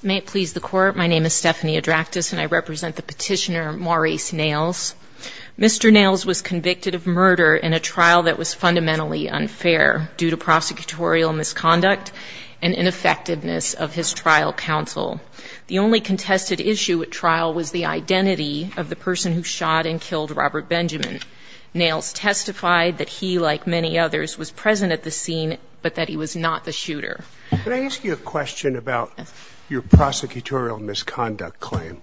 May it please the Court, my name is Stephanie Adraktis, and I represent the petitioner Morris Nails. Mr. Nails was convicted of murder in a trial that was fundamentally unfair due to prosecutorial misconduct and ineffectiveness of his trial counsel. The only contested issue at trial was the identity of the person who shot and killed Robert Benjamin. Nails testified that he, like many others, was present at the scene, but that he was not the shooter. Can I ask you a question about your prosecutorial misconduct claim?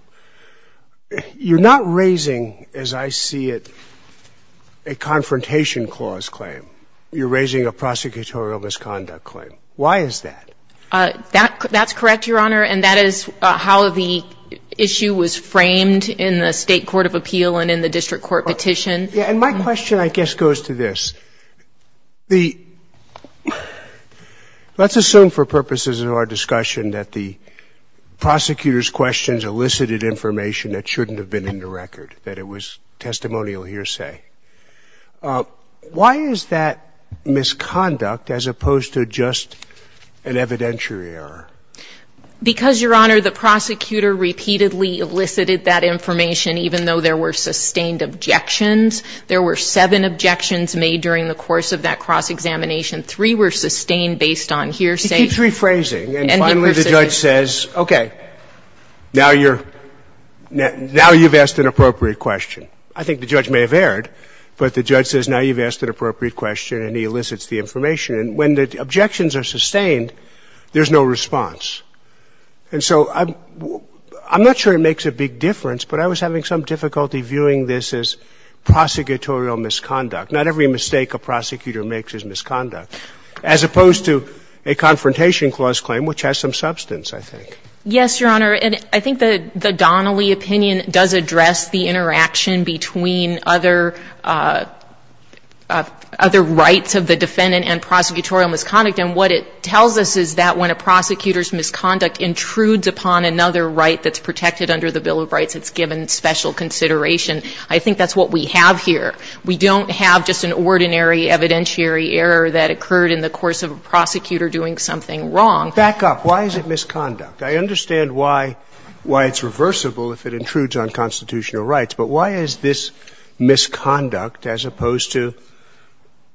You're not raising, as I see it, a confrontation clause claim. You're raising a prosecutorial misconduct claim. Why is that? That's correct, Your Honor, and that is how the issue was framed in the State court of appeal and in the district court petition. And my question, I guess, goes to this. The — let's assume for purposes of our discussion that the prosecutor's questions elicited information that shouldn't have been in the record, that it was testimonial hearsay. Why is that misconduct as opposed to just an evidentiary error? Because, Your Honor, the prosecutor repeatedly elicited that information, even though there were sustained objections. There were seven objections made during the course of that cross-examination. Three were sustained based on hearsay. He keeps rephrasing. And finally, the judge says, okay, now you're — now you've asked an appropriate question. I think the judge may have erred, but the judge says now you've asked an appropriate question, and he elicits the information. And when the objections are sustained, there's no response. And so I'm — I'm not sure it makes a big difference, but I was having some difficulty viewing this as prosecutorial misconduct. Not every mistake a prosecutor makes is misconduct, as opposed to a Confrontation Clause claim, which has some substance, I think. Yes, Your Honor. And I think that the Donnelly opinion does address the interaction between other — other rights of the defendant and prosecutorial misconduct. And what it tells us is that when a prosecutor's misconduct intrudes upon another right that's protected under the Bill of Rights, it's given special consideration. I think that's what we have here. We don't have just an ordinary evidentiary error that occurred in the course of a prosecutor doing something wrong. Back up. Why is it misconduct? I understand why — why it's reversible if it intrudes on constitutional rights. But why is this misconduct, as opposed to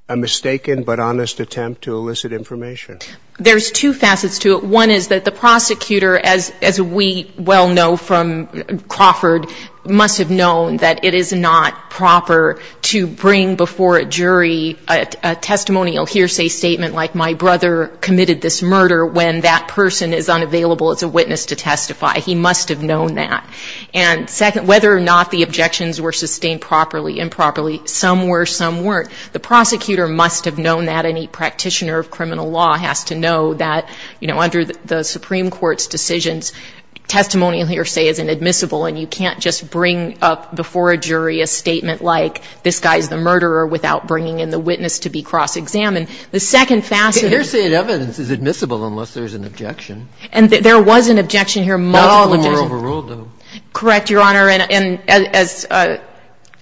a mistaken but honest attempt to elicit information? There's two facets to it. One is that the prosecutor, as we well know from Crawford, must have known that it is not proper to bring before a jury a testimonial hearsay statement like, my brother committed this murder, when that person is unavailable as a witness to testify. He must have known that. And second, whether or not the objections were sustained properly, improperly, some were, some weren't, the prosecutor must have known that, and a practitioner of criminal law has to know that, you know, under the Supreme Court's decisions, testimonial hearsay is inadmissible, and you can't just bring up before a jury a statement like, this guy's the murderer, without bringing in the witness to be cross-examined. The second facet — Hearsay and evidence is admissible unless there's an objection. And there was an objection here, multiple objections — But all of them were overruled, though. Correct, Your Honor. And as —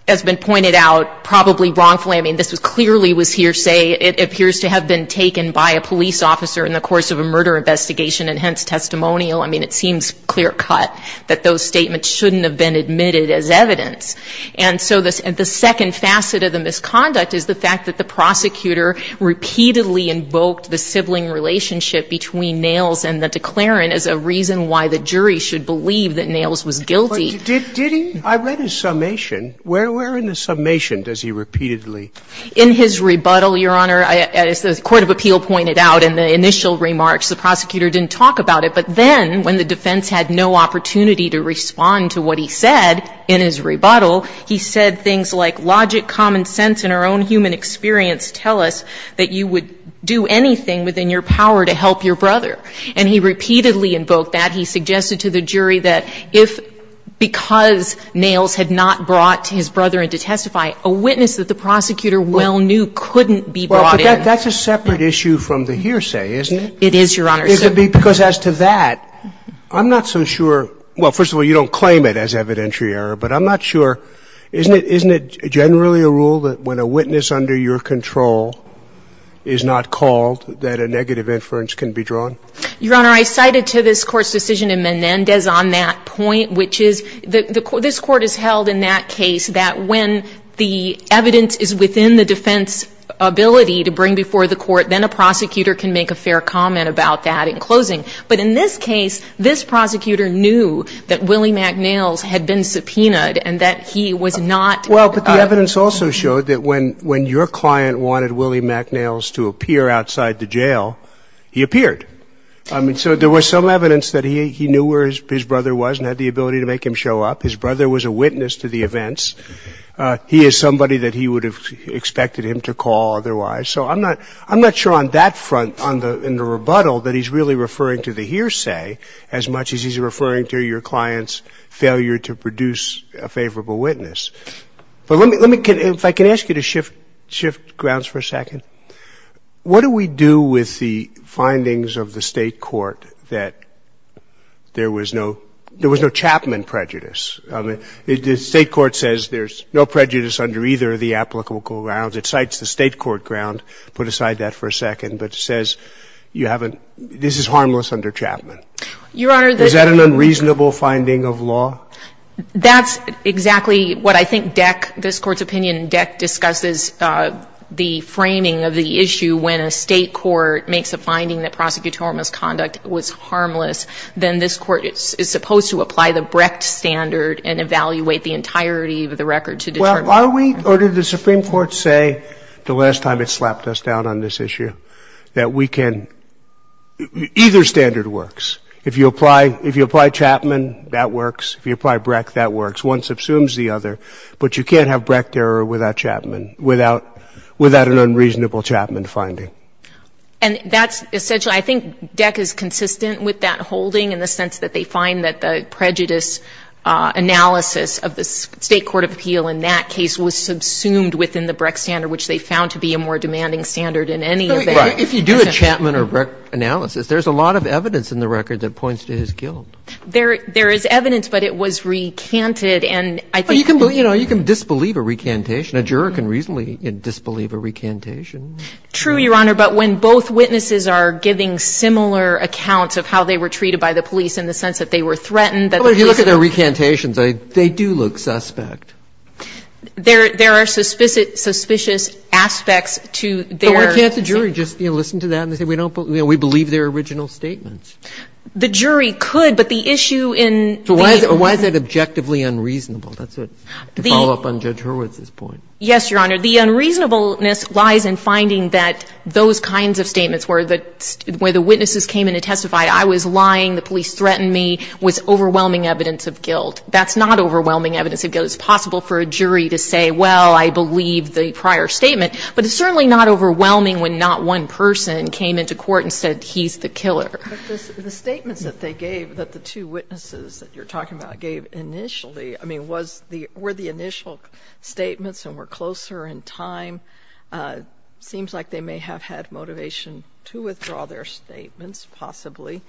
as been pointed out, probably wrongfully, I mean, this was clearly was hearsay. It appears to have been taken by a police officer in the course of a murder investigation and hence testimonial. I mean, it seems clear-cut that those statements shouldn't have been admitted as evidence. And so the second facet of the misconduct is the fact that the prosecutor repeatedly invoked the sibling relationship between Nails and the declarant as a reason why the jury should believe that Nails was guilty. But did he? I read his summation. Where in the summation does he repeatedly — In his rebuttal, Your Honor, as the court of appeal pointed out in the initial remarks, the prosecutor didn't talk about it. But then, when the defense had no opportunity to respond to what he said in his rebuttal, he said things like, logic, common sense, and our own human experience tell us that you would do anything within your power to help your brother. And he repeatedly invoked that. He suggested to the jury that if, because Nails had not brought his brother in to testify, a witness that the prosecutor well knew couldn't be brought in. Well, but that's a separate issue from the hearsay, isn't it? It is, Your Honor. Because as to that, I'm not so sure — well, first of all, you don't claim it as evidentiary error, but I'm not sure. Isn't it generally a rule that when a witness under your control is not called that a negative inference can be drawn? Your Honor, I cited to this Court's decision in Menendez on that point, which is, this Court has held in that case that when the evidence is within the defense's ability to bring before the court, then a prosecutor can make a fair comment about that in closing. But in this case, this prosecutor knew that Willie McNails had been subpoenaed and that he was not — Well, but the evidence also showed that when your client wanted Willie McNails to appear outside the jail, he appeared. I mean, so there was some evidence that he knew where his brother was and had the ability to make him show up. His brother was a witness to the events. He is somebody that he would have expected him to call otherwise. So I'm not — I'm not sure on that front, in the rebuttal, that he's really referring to the hearsay as much as he's referring to your client's failure to produce a favorable witness. But let me — if I can ask you to shift grounds for a second. What do we do with the findings of the State court that there was no — there was no Chapman prejudice? I mean, the State court says there's no prejudice under either of the applicable grounds. It cites the State court ground, put aside that for a second, but says you haven't — this is harmless under Chapman. Your Honor, the — Is that an unreasonable finding of law? That's exactly what I think Deck — this Court's opinion, Deck discusses the framing of the issue when a State court makes a finding that prosecutorial misconduct was harmless, then this Court is supposed to apply the Brecht standard and evaluate the entirety of the record to determine — Well, are we — or did the Supreme Court say the last time it slapped us down on this issue that we can — either standard works. If you apply — if you apply Chapman, that works. If you apply Brecht, that works. One subsumes the other. But you can't have Brecht error without Chapman, without — without an unreasonable Chapman finding. And that's essentially — I think Deck is consistent with that holding in the sense that they find that the prejudice analysis of the State court of appeal in that case was subsumed within the Brecht standard, which they found to be a more demanding standard in any of their — Right. If you do a Chapman or Brecht analysis, there's a lot of evidence in the record that points to his guilt. There is evidence, but it was recanted, and I think — Well, you can believe — you know, you can disbelieve a recantation. A juror can reasonably disbelieve a recantation. True, Your Honor, but when both witnesses are giving similar accounts of how they were treated by the police in the sense that they were threatened, that the police — Well, if you look at their recantations, they do look suspect. There are suspicious aspects to their — But why can't the jury just, you know, listen to that and say, we don't — you know, we believe their original statements? The jury could, but the issue in the — So why is that objectively unreasonable? That's what — to follow up on Judge Hurwitz's point. Yes, Your Honor. The unreasonableness lies in finding that those kinds of statements where the — where the witnesses came in to testify, I was lying, the police threatened me, was overwhelming evidence of guilt. That's not overwhelming evidence of guilt. It's possible for a jury to say, well, I believe the prior statement, but it's certainly not overwhelming when not one person came into court and said he's the killer. But the statements that they gave, that the two witnesses that you're talking about gave initially, I mean, was the — were the initial statements and were closer in time, seems like they may have had motivation to withdraw their statements, possibly.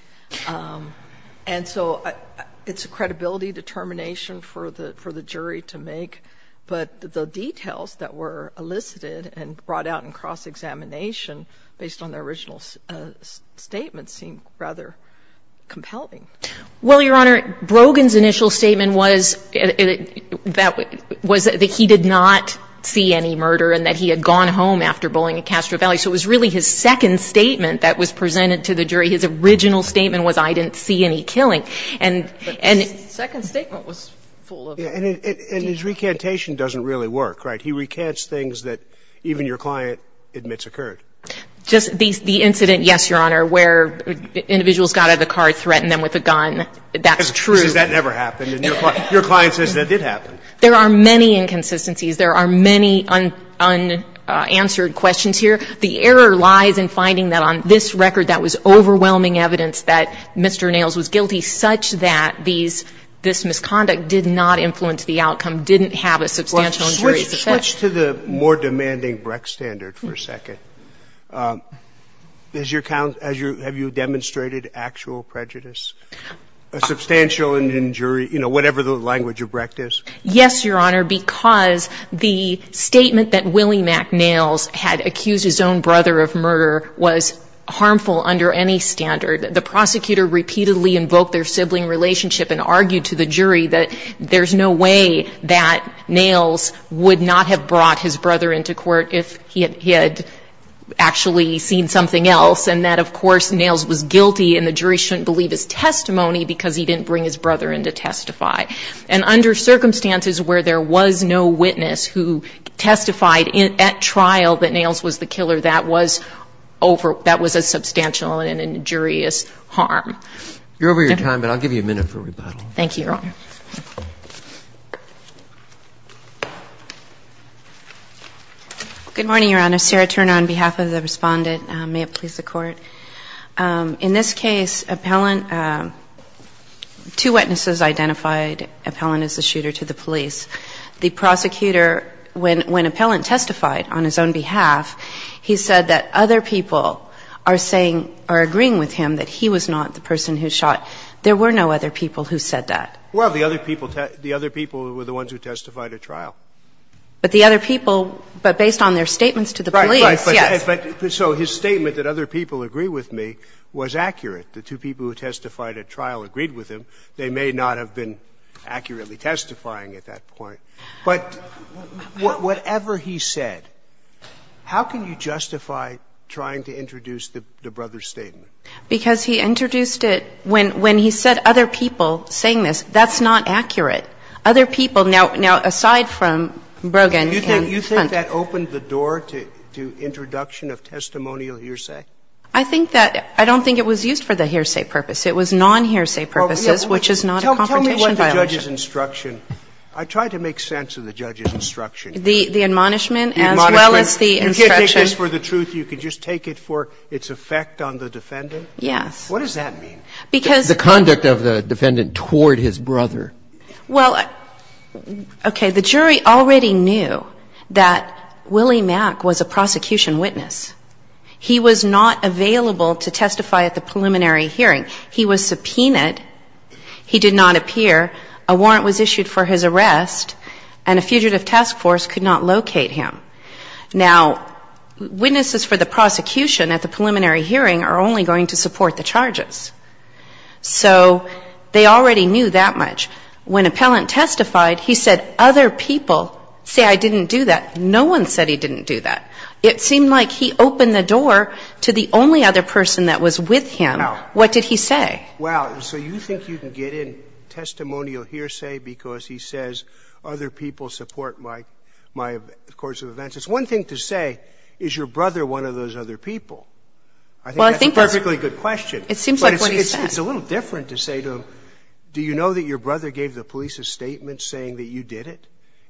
And so it's a credibility determination for the jury to make. But the details that were elicited and brought out in cross-examination based on their original statements seem rather compelling. Well, Your Honor, Brogan's initial statement was that he did not see any murder and that he had gone home after bullying at Castro Valley. So it was really his second statement that was presented to the jury. His original statement was, I didn't see any killing. And — But his second statement was full of — And his recantation doesn't really work, right? He recants things that even your client admits occurred. Just the incident, yes, Your Honor, where individuals got out of the car, threatened them with a gun. That's true. He says that never happened. And your client says that did happen. There are many inconsistencies. There are many unanswered questions here. The error lies in finding that on this record that was overwhelming evidence that Mr. Nails was guilty such that these — this misconduct did not influence the outcome, didn't have a substantial injury. Switch to the more demanding Brecht standard for a second. Does your — have you demonstrated actual prejudice? A substantial injury, you know, whatever the language of Brecht is? Yes, Your Honor, because the statement that Willie Mac Nails had accused his own brother of murder was harmful under any standard. The prosecutor repeatedly invoked their sibling relationship and argued to the jury that there's no way that Nails would not have brought his brother into court if he had actually seen something else and that, of course, Nails was guilty and the jury shouldn't believe his testimony because he didn't bring his brother in to testify. And under circumstances where there was no witness who testified at trial that Nails was the killer, that was over — that was a substantial and injurious harm. You're over your time, but I'll give you a minute for rebuttal. Thank you, Your Honor. Good morning, Your Honor. Sarah Turner on behalf of the Respondent. May it please the Court. In this case, appellant — two witnesses identified appellant as the shooter to the police. The prosecutor, when appellant testified on his own behalf, he said that other people are saying — are agreeing with him that he was not the person who shot. There were no other people who said that. Well, the other people were the ones who testified at trial. But the other people, but based on their statements to the police, yes. Right, right. But so his statement that other people agree with me was accurate. The two people who testified at trial agreed with him. They may not have been accurately testifying at that point. But whatever he said, how can you justify trying to introduce the brother's statement? Because he introduced it — when he said other people saying this, that's not accurate. Other people — now, aside from Brogan and Hunt. Do you think that opened the door to introduction of testimonial hearsay? I think that — I don't think it was used for the hearsay purpose. It was non-hearsay purposes, which is not a confrontation violation. Tell me what the judge's instruction — I tried to make sense of the judge's instruction. The admonishment as well as the instruction. You can't take this for the truth. You can just take it for its effect on the defendant. Yes. What does that mean? Because — The conduct of the defendant toward his brother. Well, okay. The jury already knew that Willie Mack was a prosecution witness. He was not available to testify at the preliminary hearing. He was subpoenaed. He did not appear. A warrant was issued for his arrest, and a fugitive task force could not locate him. Now, witnesses for the prosecution at the preliminary hearing are only going to support the charges. So they already knew that much. When appellant testified, he said other people say I didn't do that. No one said he didn't do that. It seemed like he opened the door to the only other person that was with him. No. What did he say? Well, so you think you can get in testimonial hearsay because he says other people support my course of events. It's one thing to say, is your brother one of those other people? I think that's a perfectly good question. It seems like what he said. But it's a little different to say to him, do you know that your brother gave the police a statement saying that you did it?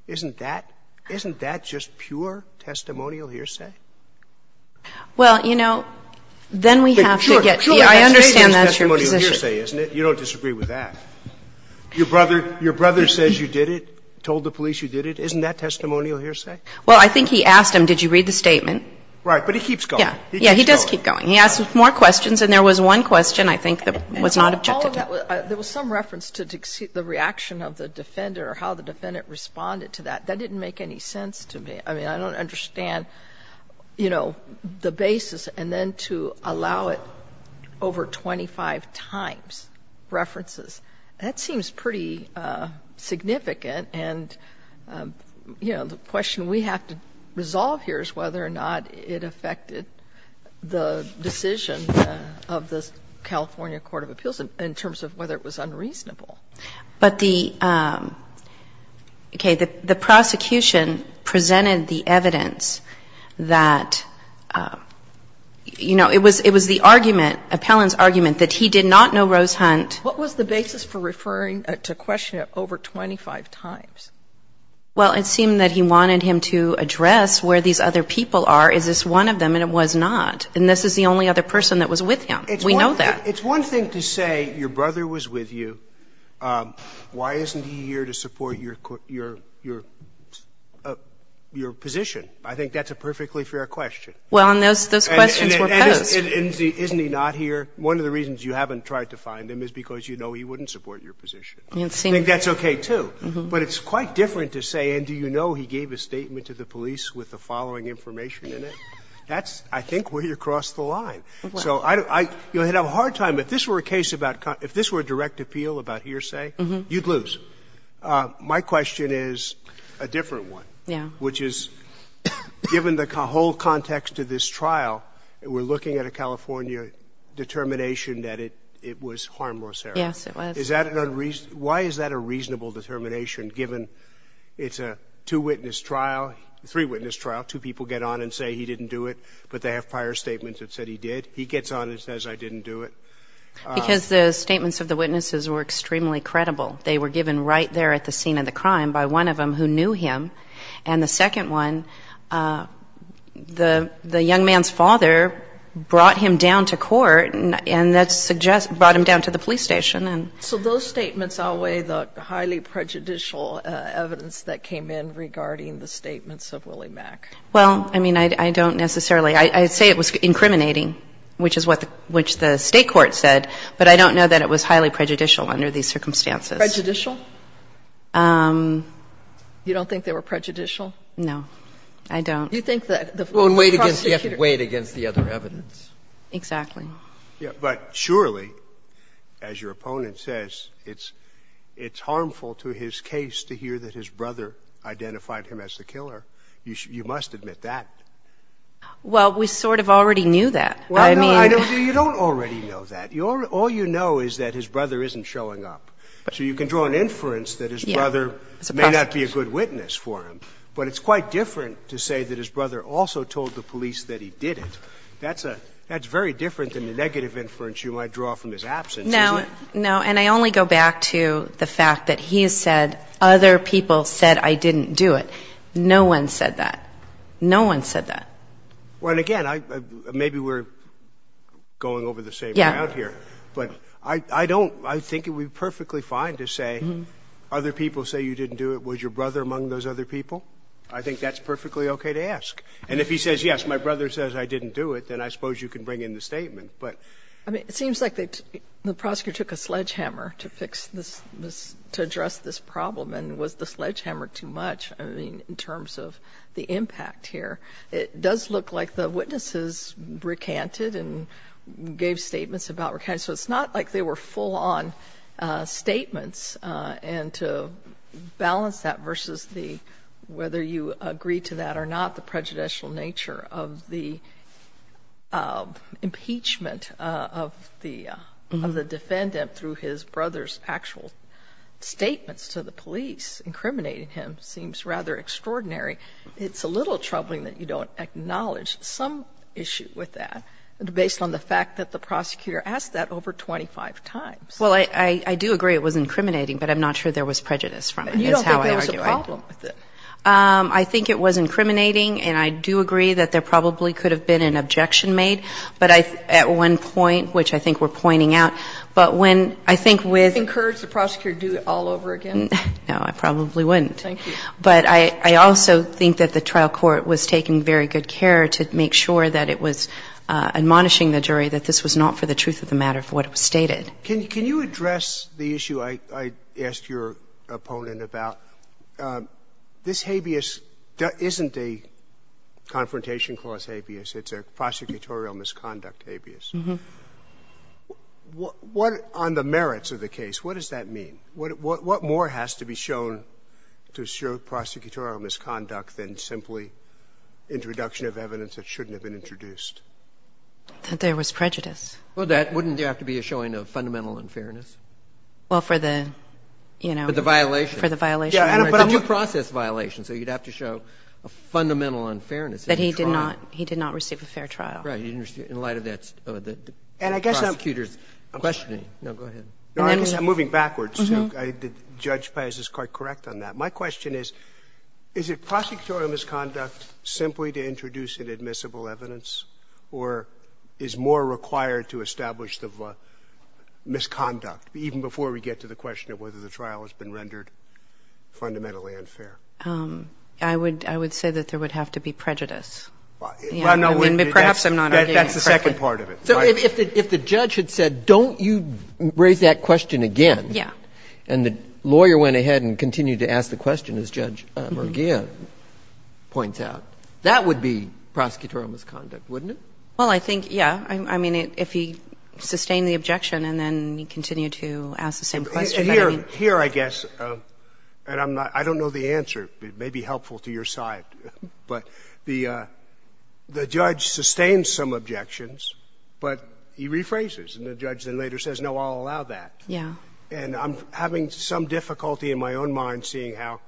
Isn't that — isn't that just pure testimonial hearsay? Well, you know, then we have to get the — I understand that's your position. I understand that's testimonial hearsay, isn't it? You don't disagree with that. Your brother says you did it, told the police you did it. Isn't that testimonial hearsay? Well, I think he asked him, did you read the statement. Right. But he keeps going. Yeah. He does keep going. He asks more questions, and there was one question, I think, that was not objected to. There was some reference to the reaction of the defender, how the defendant responded to that. That didn't make any sense to me. I mean, I don't understand, you know, the basis, and then to allow it over 25 times, that seems pretty significant. And, you know, the question we have to resolve here is whether or not it affected the decision of the California Court of Appeals in terms of whether it was unreasonable. But the — okay. The prosecution presented the evidence that, you know, it was the argument, appellant's argument, that he did not know Rose Hunt. What was the basis for referring to question it over 25 times? Well, it seemed that he wanted him to address where these other people are. Is this one of them? And it was not. And this is the only other person that was with him. We know that. It's one thing to say your brother was with you. Why isn't he here to support your position? I think that's a perfectly fair question. Well, and those questions were posed. Isn't he not here? One of the reasons you haven't tried to find him is because you know he wouldn't support your position. I think that's okay, too. But it's quite different to say, and do you know he gave a statement to the police with the following information in it? That's, I think, way across the line. So I don't — you know, I had a hard time. If this were a case about — if this were a direct appeal about hearsay, you'd My question is a different one. Yeah. Which is, given the whole context of this trial, we're looking at a California determination that it was harmless error. Yes, it was. Why is that a reasonable determination given it's a two-witness trial, three-witness trial, two people get on and say he didn't do it, but they have prior statements that said he did? He gets on and says I didn't do it. Because the statements of the witnesses were extremely credible. They were given right there at the scene of the crime by one of them who knew him. And the second one, the young man's father brought him down to court, and that brought him down to the police station. So those statements outweigh the highly prejudicial evidence that came in regarding the statements of Willie Mack? Well, I mean, I don't necessarily — I'd say it was incriminating, which is what the state court said, but I don't know that it was highly prejudicial under these circumstances. Prejudicial? You don't think they were prejudicial? No. I don't. You think that the prosecutor — You have to weigh it against the other evidence. Exactly. But surely, as your opponent says, it's harmful to his case to hear that his brother identified him as the killer. You must admit that. Well, we sort of already knew that. I mean — Well, no, you don't already know that. All you know is that his brother isn't showing up. So you can draw an inference that his brother may not be a good witness for him, but it's quite different to say that his brother also told the police that he did it. That's a — that's very different than the negative inference you might draw from his absence, isn't it? No. No. And I only go back to the fact that he has said, other people said I didn't do it. No one said that. Well, and again, maybe we're going over the same ground here. Yeah. But I don't — I think it would be perfectly fine to say, other people say you didn't do it. Was your brother among those other people? I think that's perfectly okay to ask. And if he says, yes, my brother says I didn't do it, then I suppose you can bring in the statement. But — I mean, it seems like the prosecutor took a sledgehammer to fix this — to address this problem. And was the sledgehammer too much, I mean, in terms of the impact here? It does look like the witnesses recanted and gave statements about recanting. So it's not like they were full-on statements. And to balance that versus the — whether you agree to that or not, the prejudicial nature of the impeachment of the defendant through his brother's actual statements to the police, incriminating him, seems rather extraordinary. It's a little troubling that you don't acknowledge some issue with that based on the fact that the prosecutor asked that over 25 times. Well, I do agree it was incriminating, but I'm not sure there was prejudice from it, is how I argue it. You don't think there was a problem with it? I think it was incriminating, and I do agree that there probably could have been an objection made. But at one point, which I think we're pointing out, but when I think with — Would you encourage the prosecutor to do it all over again? No, I probably wouldn't. Thank you. But I also think that the trial court was taking very good care to make sure that it was admonishing the jury that this was not for the truth of the matter, for what it was stated. Can you address the issue I asked your opponent about? This habeas isn't a Confrontation Clause habeas. It's a prosecutorial misconduct habeas. What — on the merits of the case, what does that mean? What more has to be shown to show prosecutorial misconduct than simply introduction of evidence that shouldn't have been introduced? That there was prejudice. Well, that — wouldn't there have to be a showing of fundamental unfairness? Well, for the, you know — For the violation. For the violation. But you process violations, so you'd have to show a fundamental unfairness in the trial. But he did not — he did not receive a fair trial. In light of that prosecutor's questioning. No, go ahead. No, I guess I'm moving backwards, too. Judge Paz is quite correct on that. My question is, is it prosecutorial misconduct simply to introduce an admissible evidence, or is more required to establish the misconduct, even before we get to the question of whether the trial has been rendered fundamentally unfair? I would — I would say that there would have to be prejudice. Well, no. Perhaps I'm not arguing correctly. That's the second part of it. So if the judge had said, don't you raise that question again. Yeah. And the lawyer went ahead and continued to ask the question, as Judge Murgia points out, that would be prosecutorial misconduct, wouldn't it? Well, I think, yeah. I mean, if he sustained the objection and then he continued to ask the same question. Here, I guess, and I'm not — I don't know the answer. It may be helpful to your side. But the — the judge sustains some objections, but he rephrases. And the judge then later says, no, I'll allow that. Yeah. And I'm having some difficulty in my own mind seeing how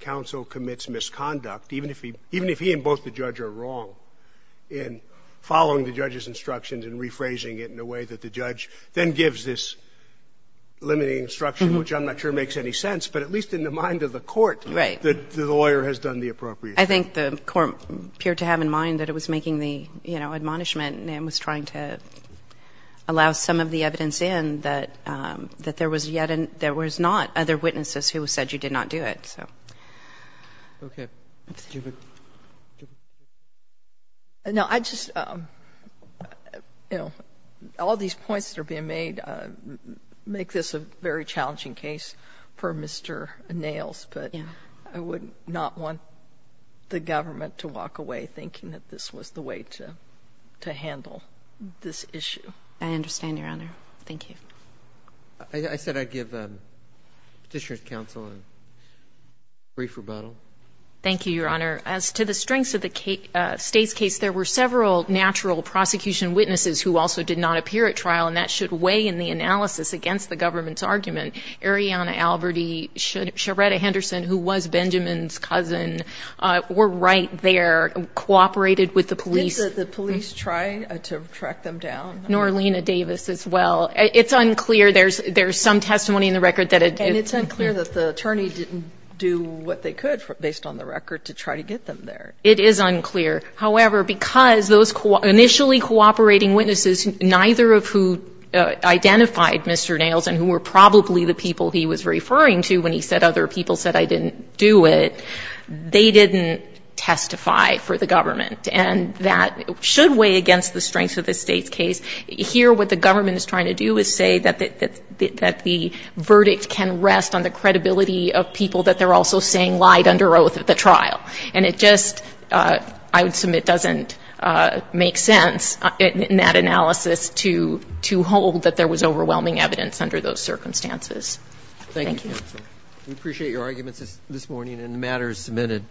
counsel commits misconduct, even if he — even if he and both the judge are wrong, in following the judge's instructions and rephrasing it in a way that the judge then gives this limiting instruction, which I'm not sure makes any sense, but at least in the mind of the court, I think the court appeared to have in mind that it was making the, you know, admonishment and was trying to allow some of the evidence in that there was not other witnesses who said you did not do it. So. Okay. Judith. No. I just — you know, all these points that are being made make this a very challenging case for Mr. Nails. Yeah. And I would not want the government to walk away thinking that this was the way to handle this issue. I understand, Your Honor. Thank you. I said I'd give Petitioner's counsel a brief rebuttal. Thank you, Your Honor. As to the strengths of the State's case, there were several natural prosecution witnesses who also did not appear at trial, and that should weigh in the analysis against the government's argument. Arianna Alberti, Sheretta Henderson, who was Benjamin's cousin, were right there, cooperated with the police. Did the police try to track them down? Nor Lena Davis as well. It's unclear. There's some testimony in the record that it did. And it's unclear that the attorney didn't do what they could based on the record to try to get them there. It is unclear. However, because those initially cooperating witnesses, neither of who identified Mr. Nailson, who were probably the people he was referring to when he said other people said I didn't do it, they didn't testify for the government. And that should weigh against the strengths of the State's case. Here, what the government is trying to do is say that the verdict can rest on the credibility of people that they're also saying lied under oath at the trial. And it just, I would submit, doesn't make sense in that analysis to hold that there was overwhelming evidence under those circumstances. Thank you. We appreciate your arguments this morning, and the matter is submitted.